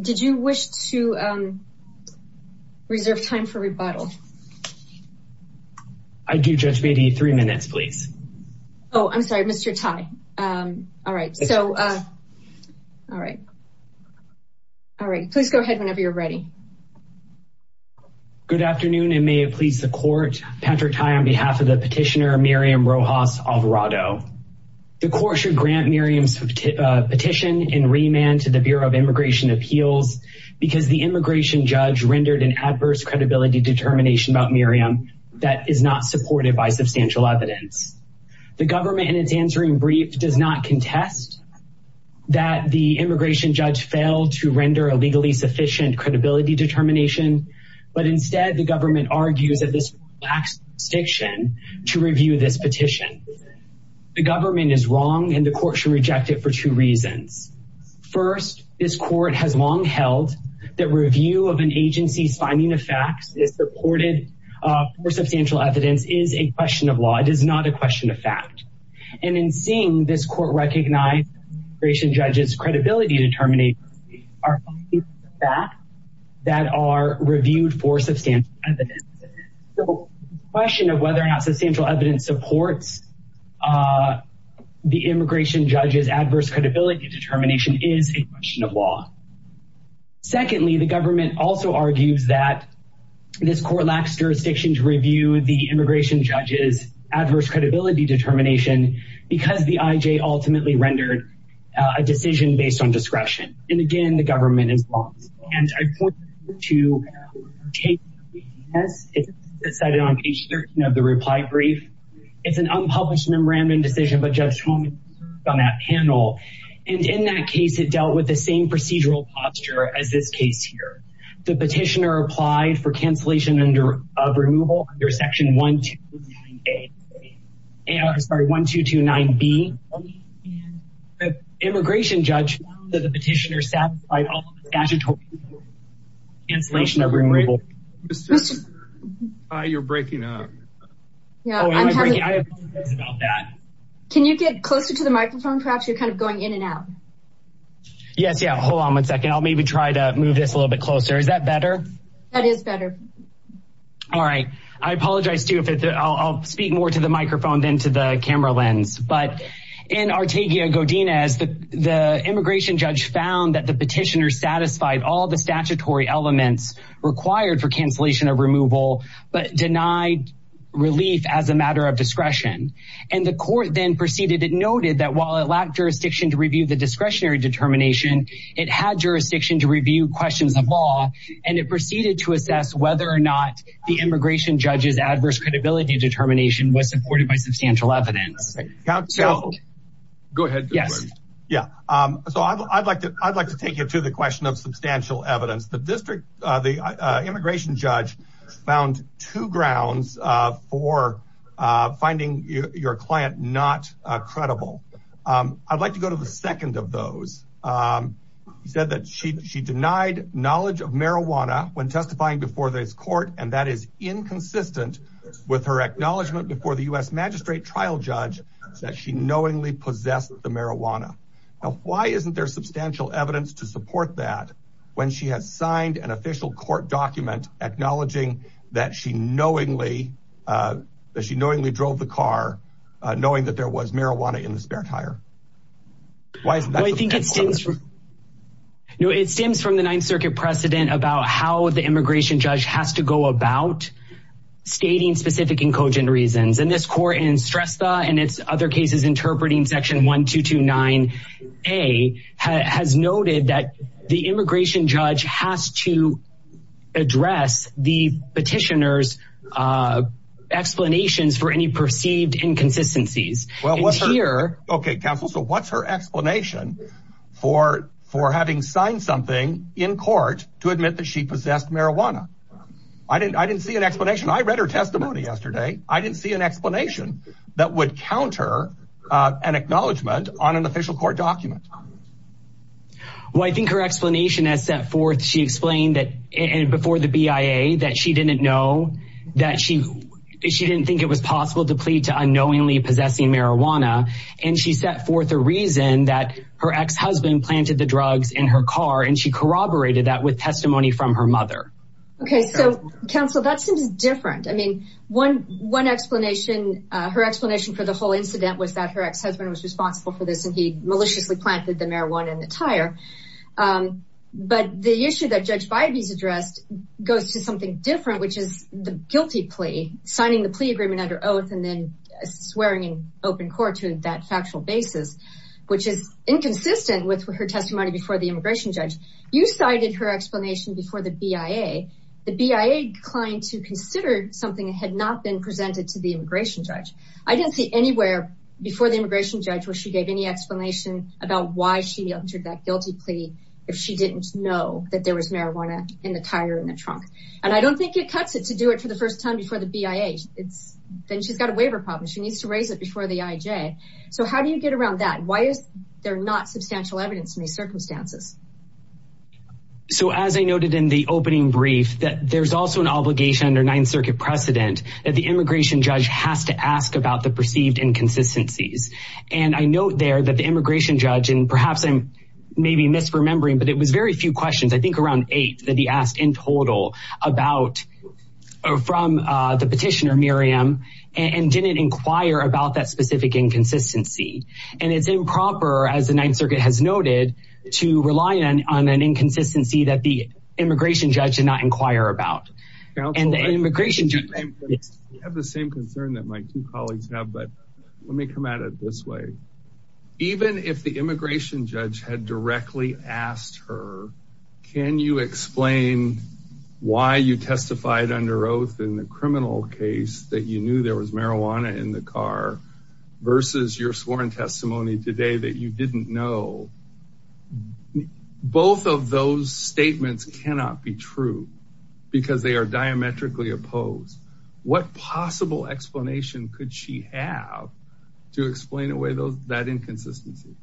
Did you wish to reserve time for rebuttal? I do, Judge Beatty. Three minutes, please. Oh, I'm sorry, Mr. Tai. All right. So, all right. All right. Please go ahead whenever you're ready. Good afternoon, and may it please the court. Patrick Tai on behalf of the petitioner, Miriam Rojas Alvarado. The court should grant Miriam's petition in remand to the Bureau of Appeals because the immigration judge rendered an adverse credibility determination about Miriam that is not supported by substantial evidence. The government, in its answering brief, does not contest that the immigration judge failed to render a legally sufficient credibility determination, but instead the government argues that this lack of jurisdiction to review this petition. The government is wrong, and the court should reject it for two reasons. First, this court has long held that review of an agency's finding of facts is supported for substantial evidence is a question of law. It is not a question of fact. And in seeing this court recognize the immigration judge's credibility determinations are a fact that are reviewed for substantial evidence. So, the question of whether or not credibility determination is a question of law. Secondly, the government also argues that this court lacks jurisdiction to review the immigration judge's adverse credibility determination because the IJ ultimately rendered a decision based on discretion. And again, the government is wrong. And I point to a case that is cited on page 13 of the reply brief. It's an unpublished memorandum decision, but Judge Tomas on that panel. And in that case, it dealt with the same procedural posture as this case here. The petitioner applied for cancellation of removal under section 1229B. The immigration judge found that the petitioner applied for cancellation of removal. Can you get closer to the microphone? Perhaps you're kind of going in and out. Yes. Yeah. Hold on one second. I'll maybe try to move this a little bit closer. Is that better? That is better. All right. I apologize too. I'll speak more to the microphone than to the camera lens. But in Artegia Godinez, the immigration judge found that the petitioner satisfied all the statutory elements required for cancellation of removal, but denied relief as a matter of discretion. And the court then proceeded. It noted that while it lacked jurisdiction to review the discretionary determination, it had jurisdiction to review questions of law. And it proceeded to assess whether or not the immigration judge's adverse credibility determination was supported by Go ahead. Yes. Yeah. So I'd like to take you to the question of substantial evidence. The immigration judge found two grounds for finding your client not credible. I'd like to go to the second of those. He said that she denied knowledge of marijuana when testifying before this court, and that is inconsistent with her acknowledgement before the U.S. magistrate trial judge that she knowingly possessed the marijuana. Now, why isn't there substantial evidence to support that when she has signed an official court document acknowledging that she knowingly, that she knowingly drove the car knowing that there was marijuana in the spare tire? Why is that? I think it stems from the Ninth Circuit precedent about how the immigration judge has to go about stating specific and cogent reasons. And this court in Strestha and its other cases interpreting Section 1229A has noted that the immigration judge has to address the petitioner's explanations for any perceived inconsistencies. Well, what's here? Okay, counsel. So what's her explanation for having signed something in court to admit that she possessed marijuana? I didn't see an explanation. I read her testimony yesterday. I didn't see an explanation that would counter an acknowledgement on an official court document. Well, I think her explanation has set forth. She explained that before the BIA that she didn't know that she she didn't think it was possible to plead to unknowingly possessing marijuana. And she set forth a reason that her ex-husband planted the drugs in her car and she corroborated that with testimony from her mother. Okay, so counsel, that seems different. I mean, one explanation, her explanation for the whole incident was that her ex-husband was responsible for this and he maliciously planted the marijuana in the tire. But the issue that Judge Bybee's addressed goes to something different, which is the guilty plea, signing the plea agreement under oath and then swearing in open court to that factual basis, which is inconsistent with her You cited her explanation before the BIA. The BIA declined to consider something that had not been presented to the immigration judge. I didn't see anywhere before the immigration judge where she gave any explanation about why she entered that guilty plea if she didn't know that there was marijuana in the tire in the trunk. And I don't think it cuts it to do it for the first time before the BIA. Then she's got a waiver problem. She needs to raise it before the IJ. So how do you get around that? Why is there not substantial evidence in these circumstances? So as I noted in the opening brief, that there's also an obligation under Ninth Circuit precedent that the immigration judge has to ask about the perceived inconsistencies. And I note there that the immigration judge and perhaps I'm maybe misremembering, but it was very few questions, I think around eight that he asked in total about from the petitioner, Miriam, and didn't inquire about that specific inconsistency. And it's improper, as the Ninth Circuit has noted, to rely on an inconsistency that the immigration judge did not inquire about. And the immigration judge... I have the same concern that my two colleagues have, but let me come at it this way. Even if the immigration judge had directly asked her, can you explain why you testified under oath in the testimony today that you didn't know? Both of those statements cannot be true because they are diametrically opposed. What possible explanation could she have to explain away that inconsistency?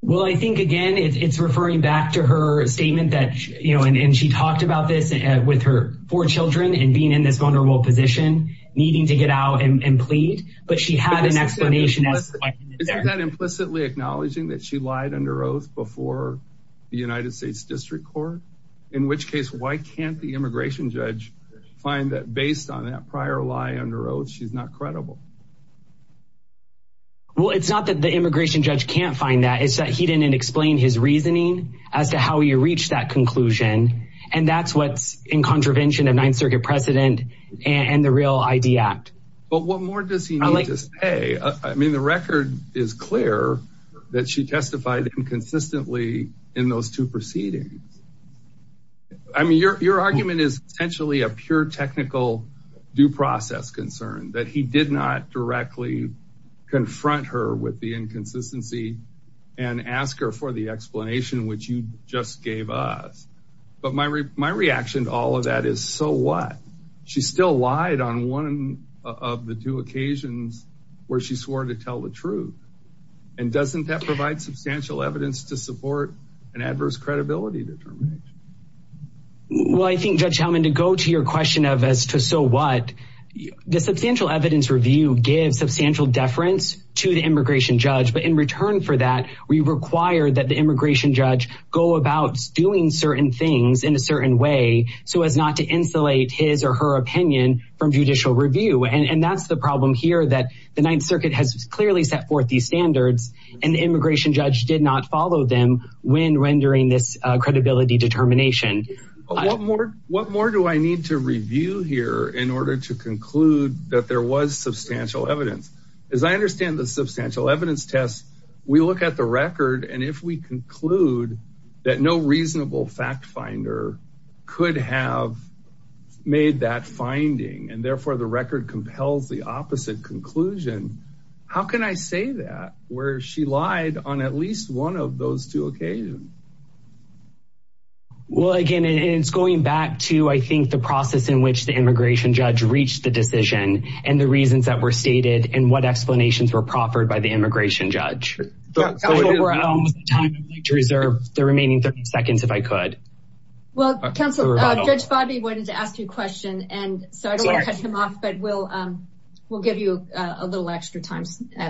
Well, I think again, it's referring back to her statement that, you know, and she talked about this with her four children and being in this vulnerable position, needing to get out and plead. But she had an explanation. Is that implicitly acknowledging that she lied under oath before the United States District Court? In which case, why can't the immigration judge find that based on that prior lie under oath, she's not credible? Well, it's not that the immigration judge can't find that, it's that he didn't explain his reasoning as to how he reached that conclusion. And that's what's in contravention of Ninth Circuit precedent and the Real ID Act. But what more does he need to say? I mean, the record is clear that she testified inconsistently in those two proceedings. I mean, your argument is essentially a pure technical due process concern that he did not directly confront her with the inconsistency and ask her for the explanation, which you just gave us. But my reaction to all of that is, so what? She still lied on one of the two occasions where she swore to tell the truth. And doesn't that provide substantial evidence to support an adverse credibility determination? Well, I think, Judge Hellman, to go to your question of as to so what, the substantial evidence review gives substantial deference to the immigration judge. But in return for that, we require that the immigration judge go about doing certain things in a certain way so as not to insulate his or her opinion from judicial review. And that's the problem here, that the Ninth Circuit has clearly set forth these standards and the immigration judge did not follow them when rendering this credibility determination. What more do I need to review here in order to conclude that there was substantial evidence? As I understand the substantial evidence test, we look at the record and if we conclude that no reasonable fact finder could have made that finding and therefore the record compels the opposite conclusion, how can I say that where she lied on at least one of those two occasions? Well, again, it's going back to, I think, the process in which the immigration judge reached the decision and the reasons that were stated and what explanations were proffered by immigration judge. I would like to reserve the remaining 30 seconds if I could. Well, counsel, Judge Fodby wanted to ask you a question and so I don't want to cut him off, but we'll give you a little extra time.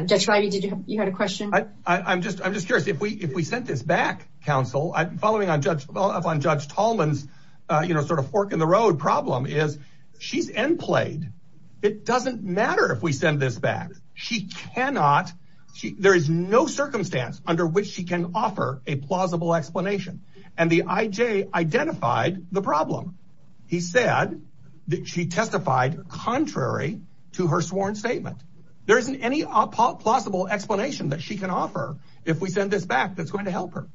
Judge Fodby, did you have a question? I'm just curious, if we sent this back, counsel, following up on Judge Tallman's sort of fork in the road problem is she's end played. It doesn't matter if we send this back. She cannot. There is no circumstance under which she can offer a plausible explanation and the IJ identified the problem. He said that she testified contrary to her sworn statement. There isn't any possible explanation that she can offer if we send this back that's going to help her.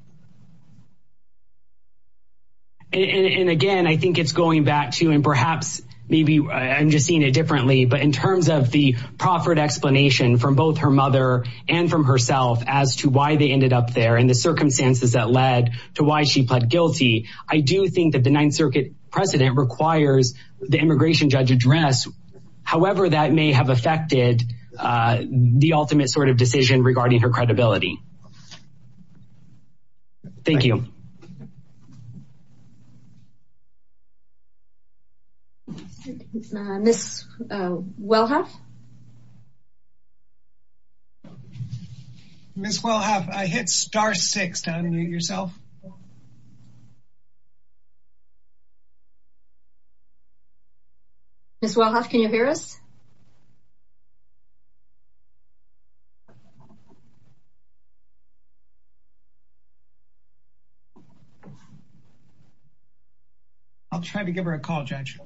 And again, I think it's going back to and perhaps maybe I'm just seeing it differently, but in terms of the proffered explanation from both her mother and from herself as to why they ended up there and the circumstances that led to why she pled guilty. I do think that the Ninth Circuit precedent requires the immigration judge address. However, that may have affected the ultimate sort of decision regarding her credibility. Thank you. Ms. Welhoff? Ms. Welhoff, I hit star six down yourself. Ms. Welhoff, can you hear us? I'll try to give her a call, judge.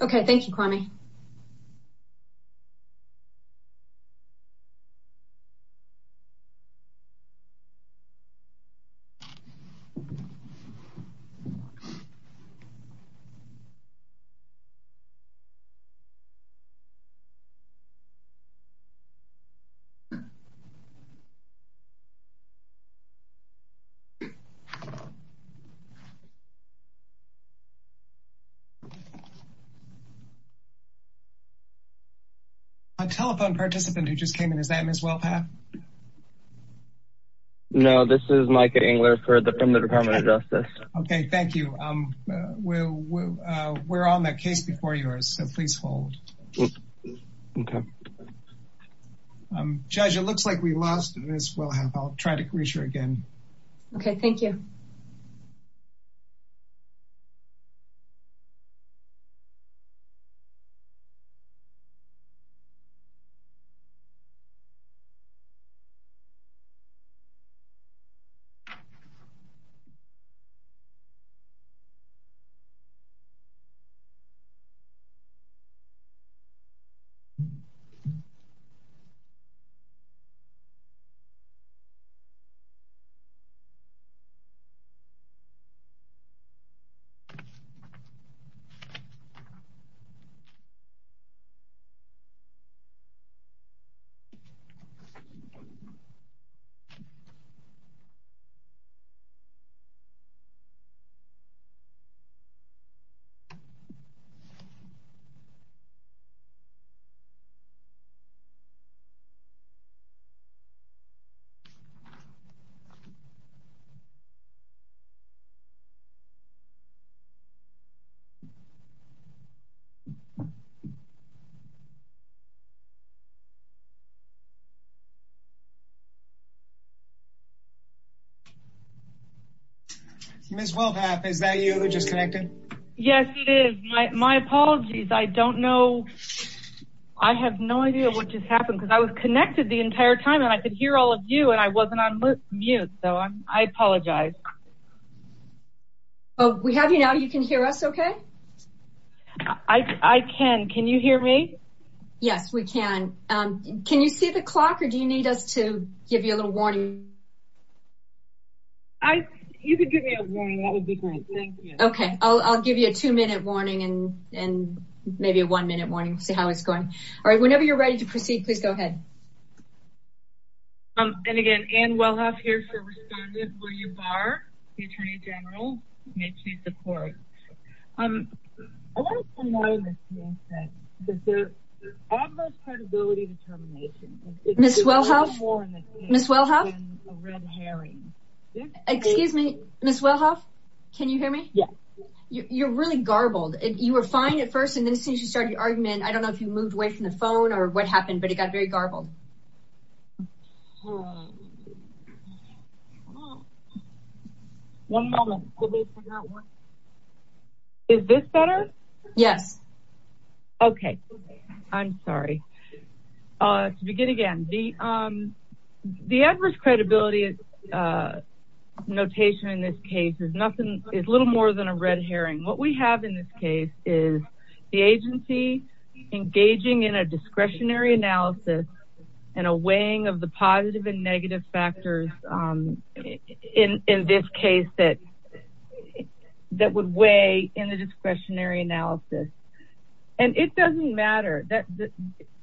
Okay. Thank you, Connie. A telephone participant who just came in. Is that Ms. Welhoff? No, this is Micah Engler from the Department of Justice. Okay. Thank you. We're on that case before yours, so please hold. Okay. Judge, it looks like we lost Ms. Welhoff. I'll try to reach her again. Okay. Thank you. Ms. Welhoff, is that you who just connected? Yes, it is. My apologies. I don't know. I have no idea what just happened because I was connected the entire time, and I could hear all of you, and I wasn't on mute, so I apologize. We have you now. You can hear us okay? I can. Can you hear me? Yes, we can. Can you see the clock, or do you need us to give you a little warning? You can give me a warning. That would be great. Thank you. Okay. I'll give you a two-minute warning and maybe a one-minute warning to see how it's going. Whenever you're ready to proceed, please go ahead. And again, Ann Welhoff here for Respondent. Will you bar the Attorney General? May she support? I want you to know, Ms. Nielsen, that there's almost credibility to termination. Ms. Welhoff? It's a red herring. Excuse me, Ms. Welhoff? Can you hear me? Yes. You're really garbled. You were fine at first, and then as soon as you started your argument, I don't know if you moved away from the phone or what happened, but it got very garbled. One moment. Is this better? Yes. Okay. I'm sorry. To begin again, the adverse credibility notation in this case is little more than a red herring. What we have in this case is the agency engaging in a discretionary analysis and a weighing of the positive and negative factors in this case that would weigh in the discretionary analysis. And it doesn't matter.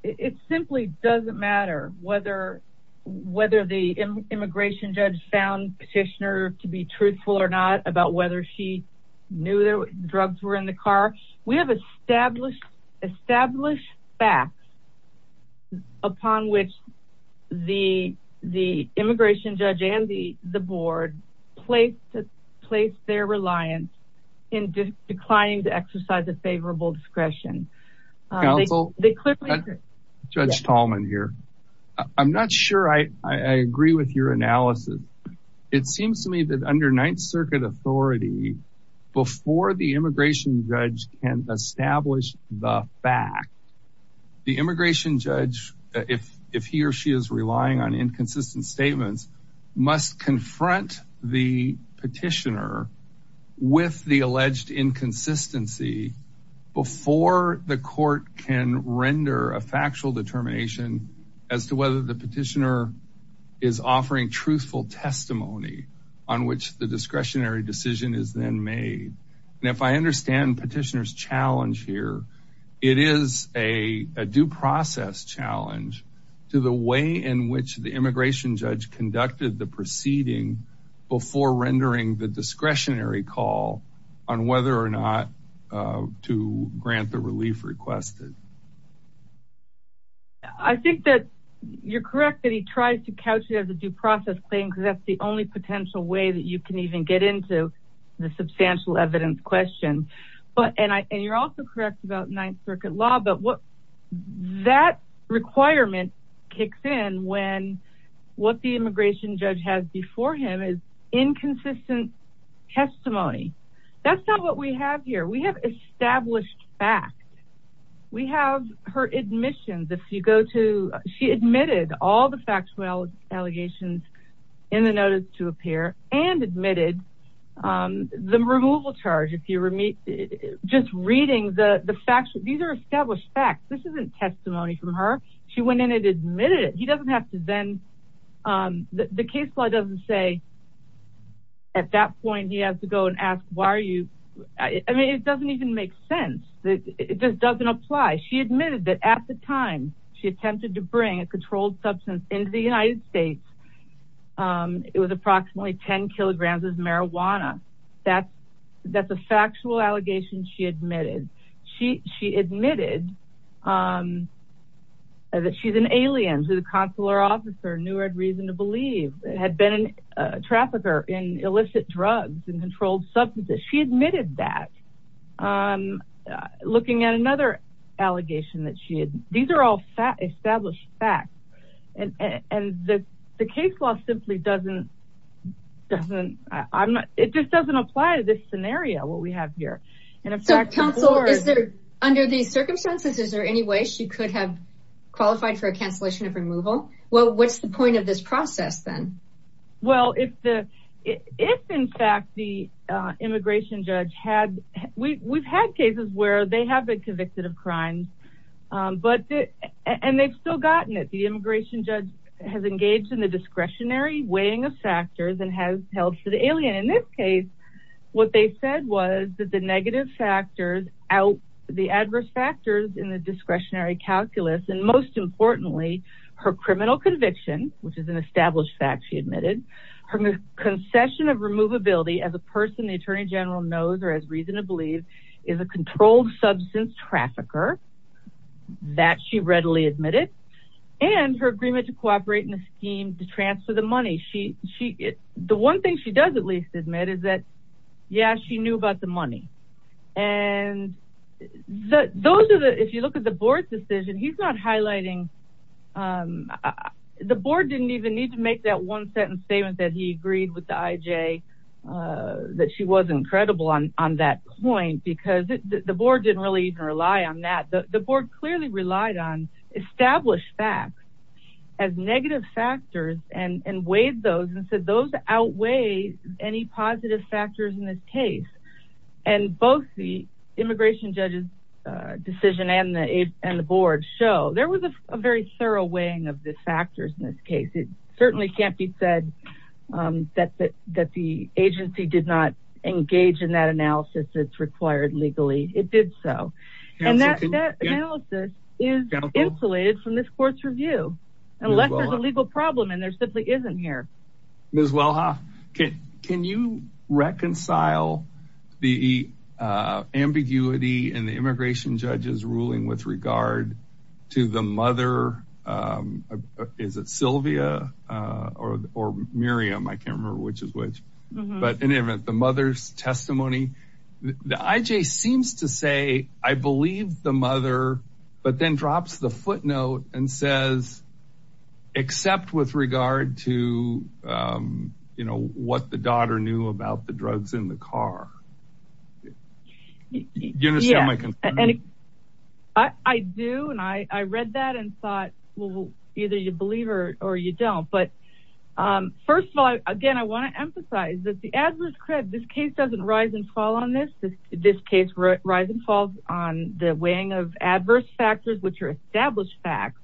It simply doesn't matter whether the immigration judge found petitioner to be truthful or not about whether she knew that drugs were in the car. We have established facts upon which the immigration judge and the board place their reliance in declining to exercise a favorable discretion. Counsel, Judge Tallman here. I'm not sure I agree with your analysis. It seems to me that under Ninth Circuit authority, before the immigration judge can establish the fact, the immigration judge, if he or she is relying on inconsistent statements, must confront the court and render a factual determination as to whether the petitioner is offering truthful testimony on which the discretionary decision is then made. And if I understand petitioner's challenge here, it is a due process challenge to the way in which the immigration judge conducted the proceeding before rendering the discretionary call on whether or not to grant the relief requested. I think that you're correct that he tries to couch it as a due process claim because that's the only potential way that you can even get into the substantial evidence question. And you're also correct about Ninth Circuit law, but what that requirement kicks in when what the immigration judge has before him is inconsistent testimony. That's not what we have here. We have established facts. We have her admissions. If you go to, she admitted all the factual allegations in the notice to appear and admitted the removal charge. If you were just reading the facts, these are established facts. This isn't testimony from her. She went in and admitted it. He doesn't have to then, the case law doesn't say at that point, he has to go and ask, why are you, I mean, it doesn't even make sense. It just doesn't apply. She admitted that at the time she attempted to bring a controlled substance into the United States, it was approximately 10 kilograms of marijuana. That's a factual allegation she admitted. She admitted that she's an alien, she's a consular officer, knew her reason to believe, had been a trafficker in illicit drugs and controlled substances. She admitted that looking at another allegation that she had. These are all established facts. And the case law simply doesn't, it just doesn't apply to this scenario, what we have here. So counsel, is there, under these circumstances, is there any way she could have qualified for a cancellation of removal? Well, what's the point of this process then? Well, if the, if in fact the immigration judge had, we've had cases where they have been convicted of crimes, but, and they've still gotten it. The immigration judge has engaged in the discretionary weighing of factors and has held for the alien. In this case, what they said was that the negative factors out the adverse factors in the discretionary calculus. And most importantly, her criminal conviction, which is an established fact, she admitted her concession of removability as a person, the attorney general knows, or has reason to believe is a controlled substance trafficker that she readily admitted and her agreement to cooperate in a scheme to transfer the money. She, the one thing she does at least admit is that, yeah, she knew about the money. And those are the, if you look at the board's decision, he's not highlighting, the board didn't even need to make that one sentence statement that he agreed with the IJ, that she wasn't credible on that point, because the board didn't really even rely on that. The board clearly relied on established facts as negative factors and weighed those and said those outweigh any positive factors in this case. And both the immigration judge's decision and the, and the board show there was a very thorough weighing of the factors in this case. It certainly can't be said that, that the agency did not engage in that analysis. It's required legally, it did so. And that analysis is insulated from this court's review, unless there's a legal problem and there simply isn't here. Ms. Welha, can you reconcile the ambiguity in the immigration judge's ruling with regard to the mother, is it Sylvia or Miriam? I can't remember which is which, but in any event, the mother's testimony, the IJ seems to say, I believe the mother, but then drops the footnote and says, except with regard to, you know, what the daughter knew about the drugs in the car. Do you understand my concern? I do. And I read that and thought, well, either you believe her or you don't. But first of all, again, I want to emphasize that the adverse cred, this case doesn't rise and fall on this, this case rise and falls on the weighing of adverse factors, which are established facts.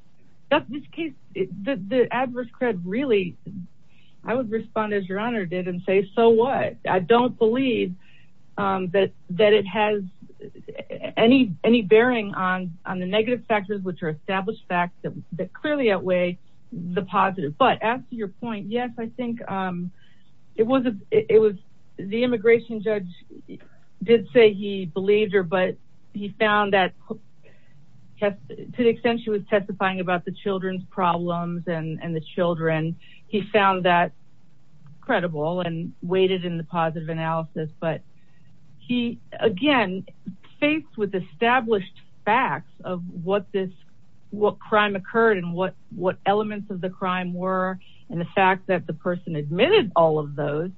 This case, the adverse cred really, I would respond as your honor did and say, so what? I don't believe that it has any bearing on the negative factors, which are established facts that clearly outweigh the positive. But as to your point, yes, I think it was, it was the immigration judge did say he believed her, but he found that to the extent she was testifying about the children's problems and the children, he found that credible and waited in the positive analysis. But he, again, faced with established facts of what this, what crime occurred and what, what elements of the crime were. And the fact that the person admitted all of those,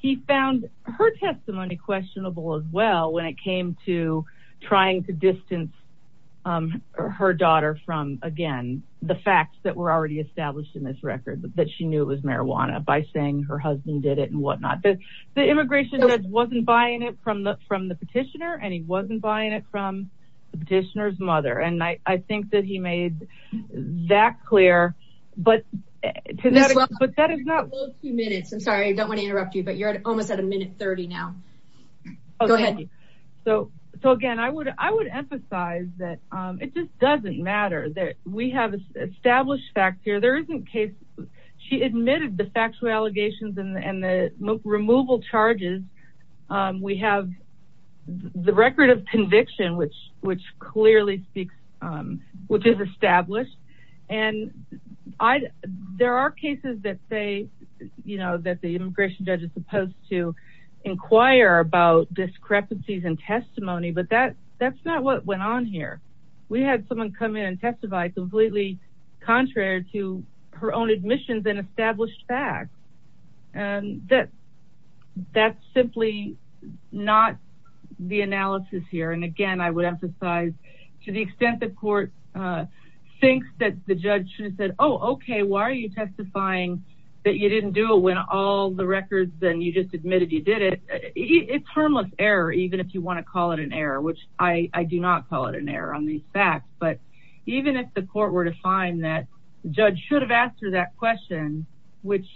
he found her testimony questionable as well, when it came to trying to distance her daughter from, again, the facts that were already established in this record that she knew it was marijuana by saying her husband did it and whatnot. The immigration judge wasn't buying it from the, from the petitioner and he wasn't buying it from the petitioner's mother. And I, I think that he made that clear, but that is not two minutes. I'm sorry, I don't want to interrupt you, but you're almost at a minute 30 now. So, so again, I would, I would emphasize that it just doesn't matter that we have established facts here. There isn't case. She admitted the factual allegations and the removal charges. We have the record of conviction, which, which clearly speaks, which is established. And I, there are cases that say, you know, that the immigration judge is supposed to inquire about discrepancies and testimony, but that that's not what went on here. We had someone come in and testify completely contrary to her own admissions and established facts. And that's, that's simply not the analysis here. And again, I would emphasize to the extent that court thinks that the judge should have said, oh, okay, why are you testifying that you didn't do it when all the records, then you just admitted you did it. It's harmless error, even if you want to call it an error, which I do not call it an error on these facts, but even if the court were to find that judge should have asked her that question, which.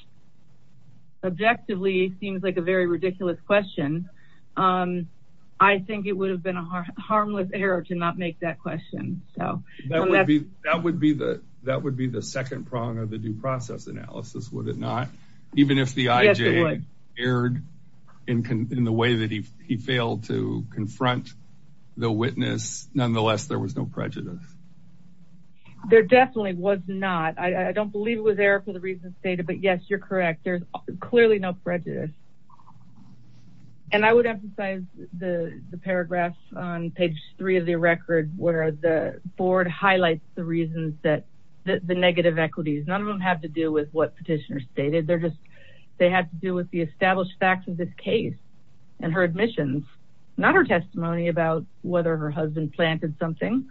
Objectively seems like a very ridiculous question. I think it would have been a harmless error to not make that question. So that would be, that would be the, that would be the second prong of the due process analysis. Would it not, even if the IJ aired in the way that he, he failed to confront the witness, nonetheless, there was no prejudice. There definitely was not. I don't believe it was there for the reasons stated, but yes, you're correct. There's clearly no prejudice. And I would emphasize the paragraphs on page three of the record, where the board highlights the reasons that the negative equities, none of them have to do with what petitioner stated. They're just, they have to do with the established facts of this case and her admissions, not her testimony about whether her husband planted something.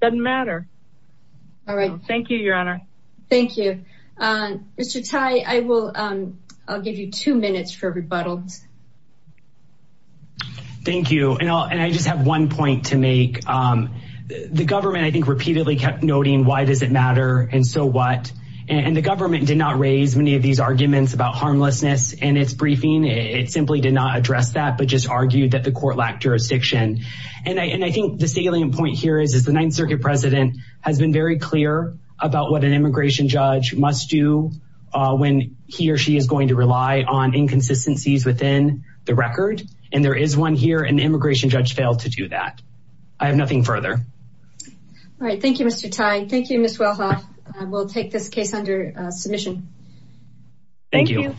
Doesn't matter. All right. Thank you, your honor. Thank you. Mr. Tai, I will, I'll give you two minutes for rebuttals. Thank you. And I'll, and I just have one point to make. The government, I think repeatedly kept noting, why does it matter? And so what, and the government did not raise many of these arguments about harmlessness and its briefing. It simply did not address that, but just argued that the court lacked jurisdiction. And I, and I think the salient point here is, is the ninth circuit president has been very clear about what an immigration judge must do when he or she is going to rely on inconsistencies within the record. And there is one here, an immigration judge failed to do that. I have nothing further. All right. Thank you. Thank you.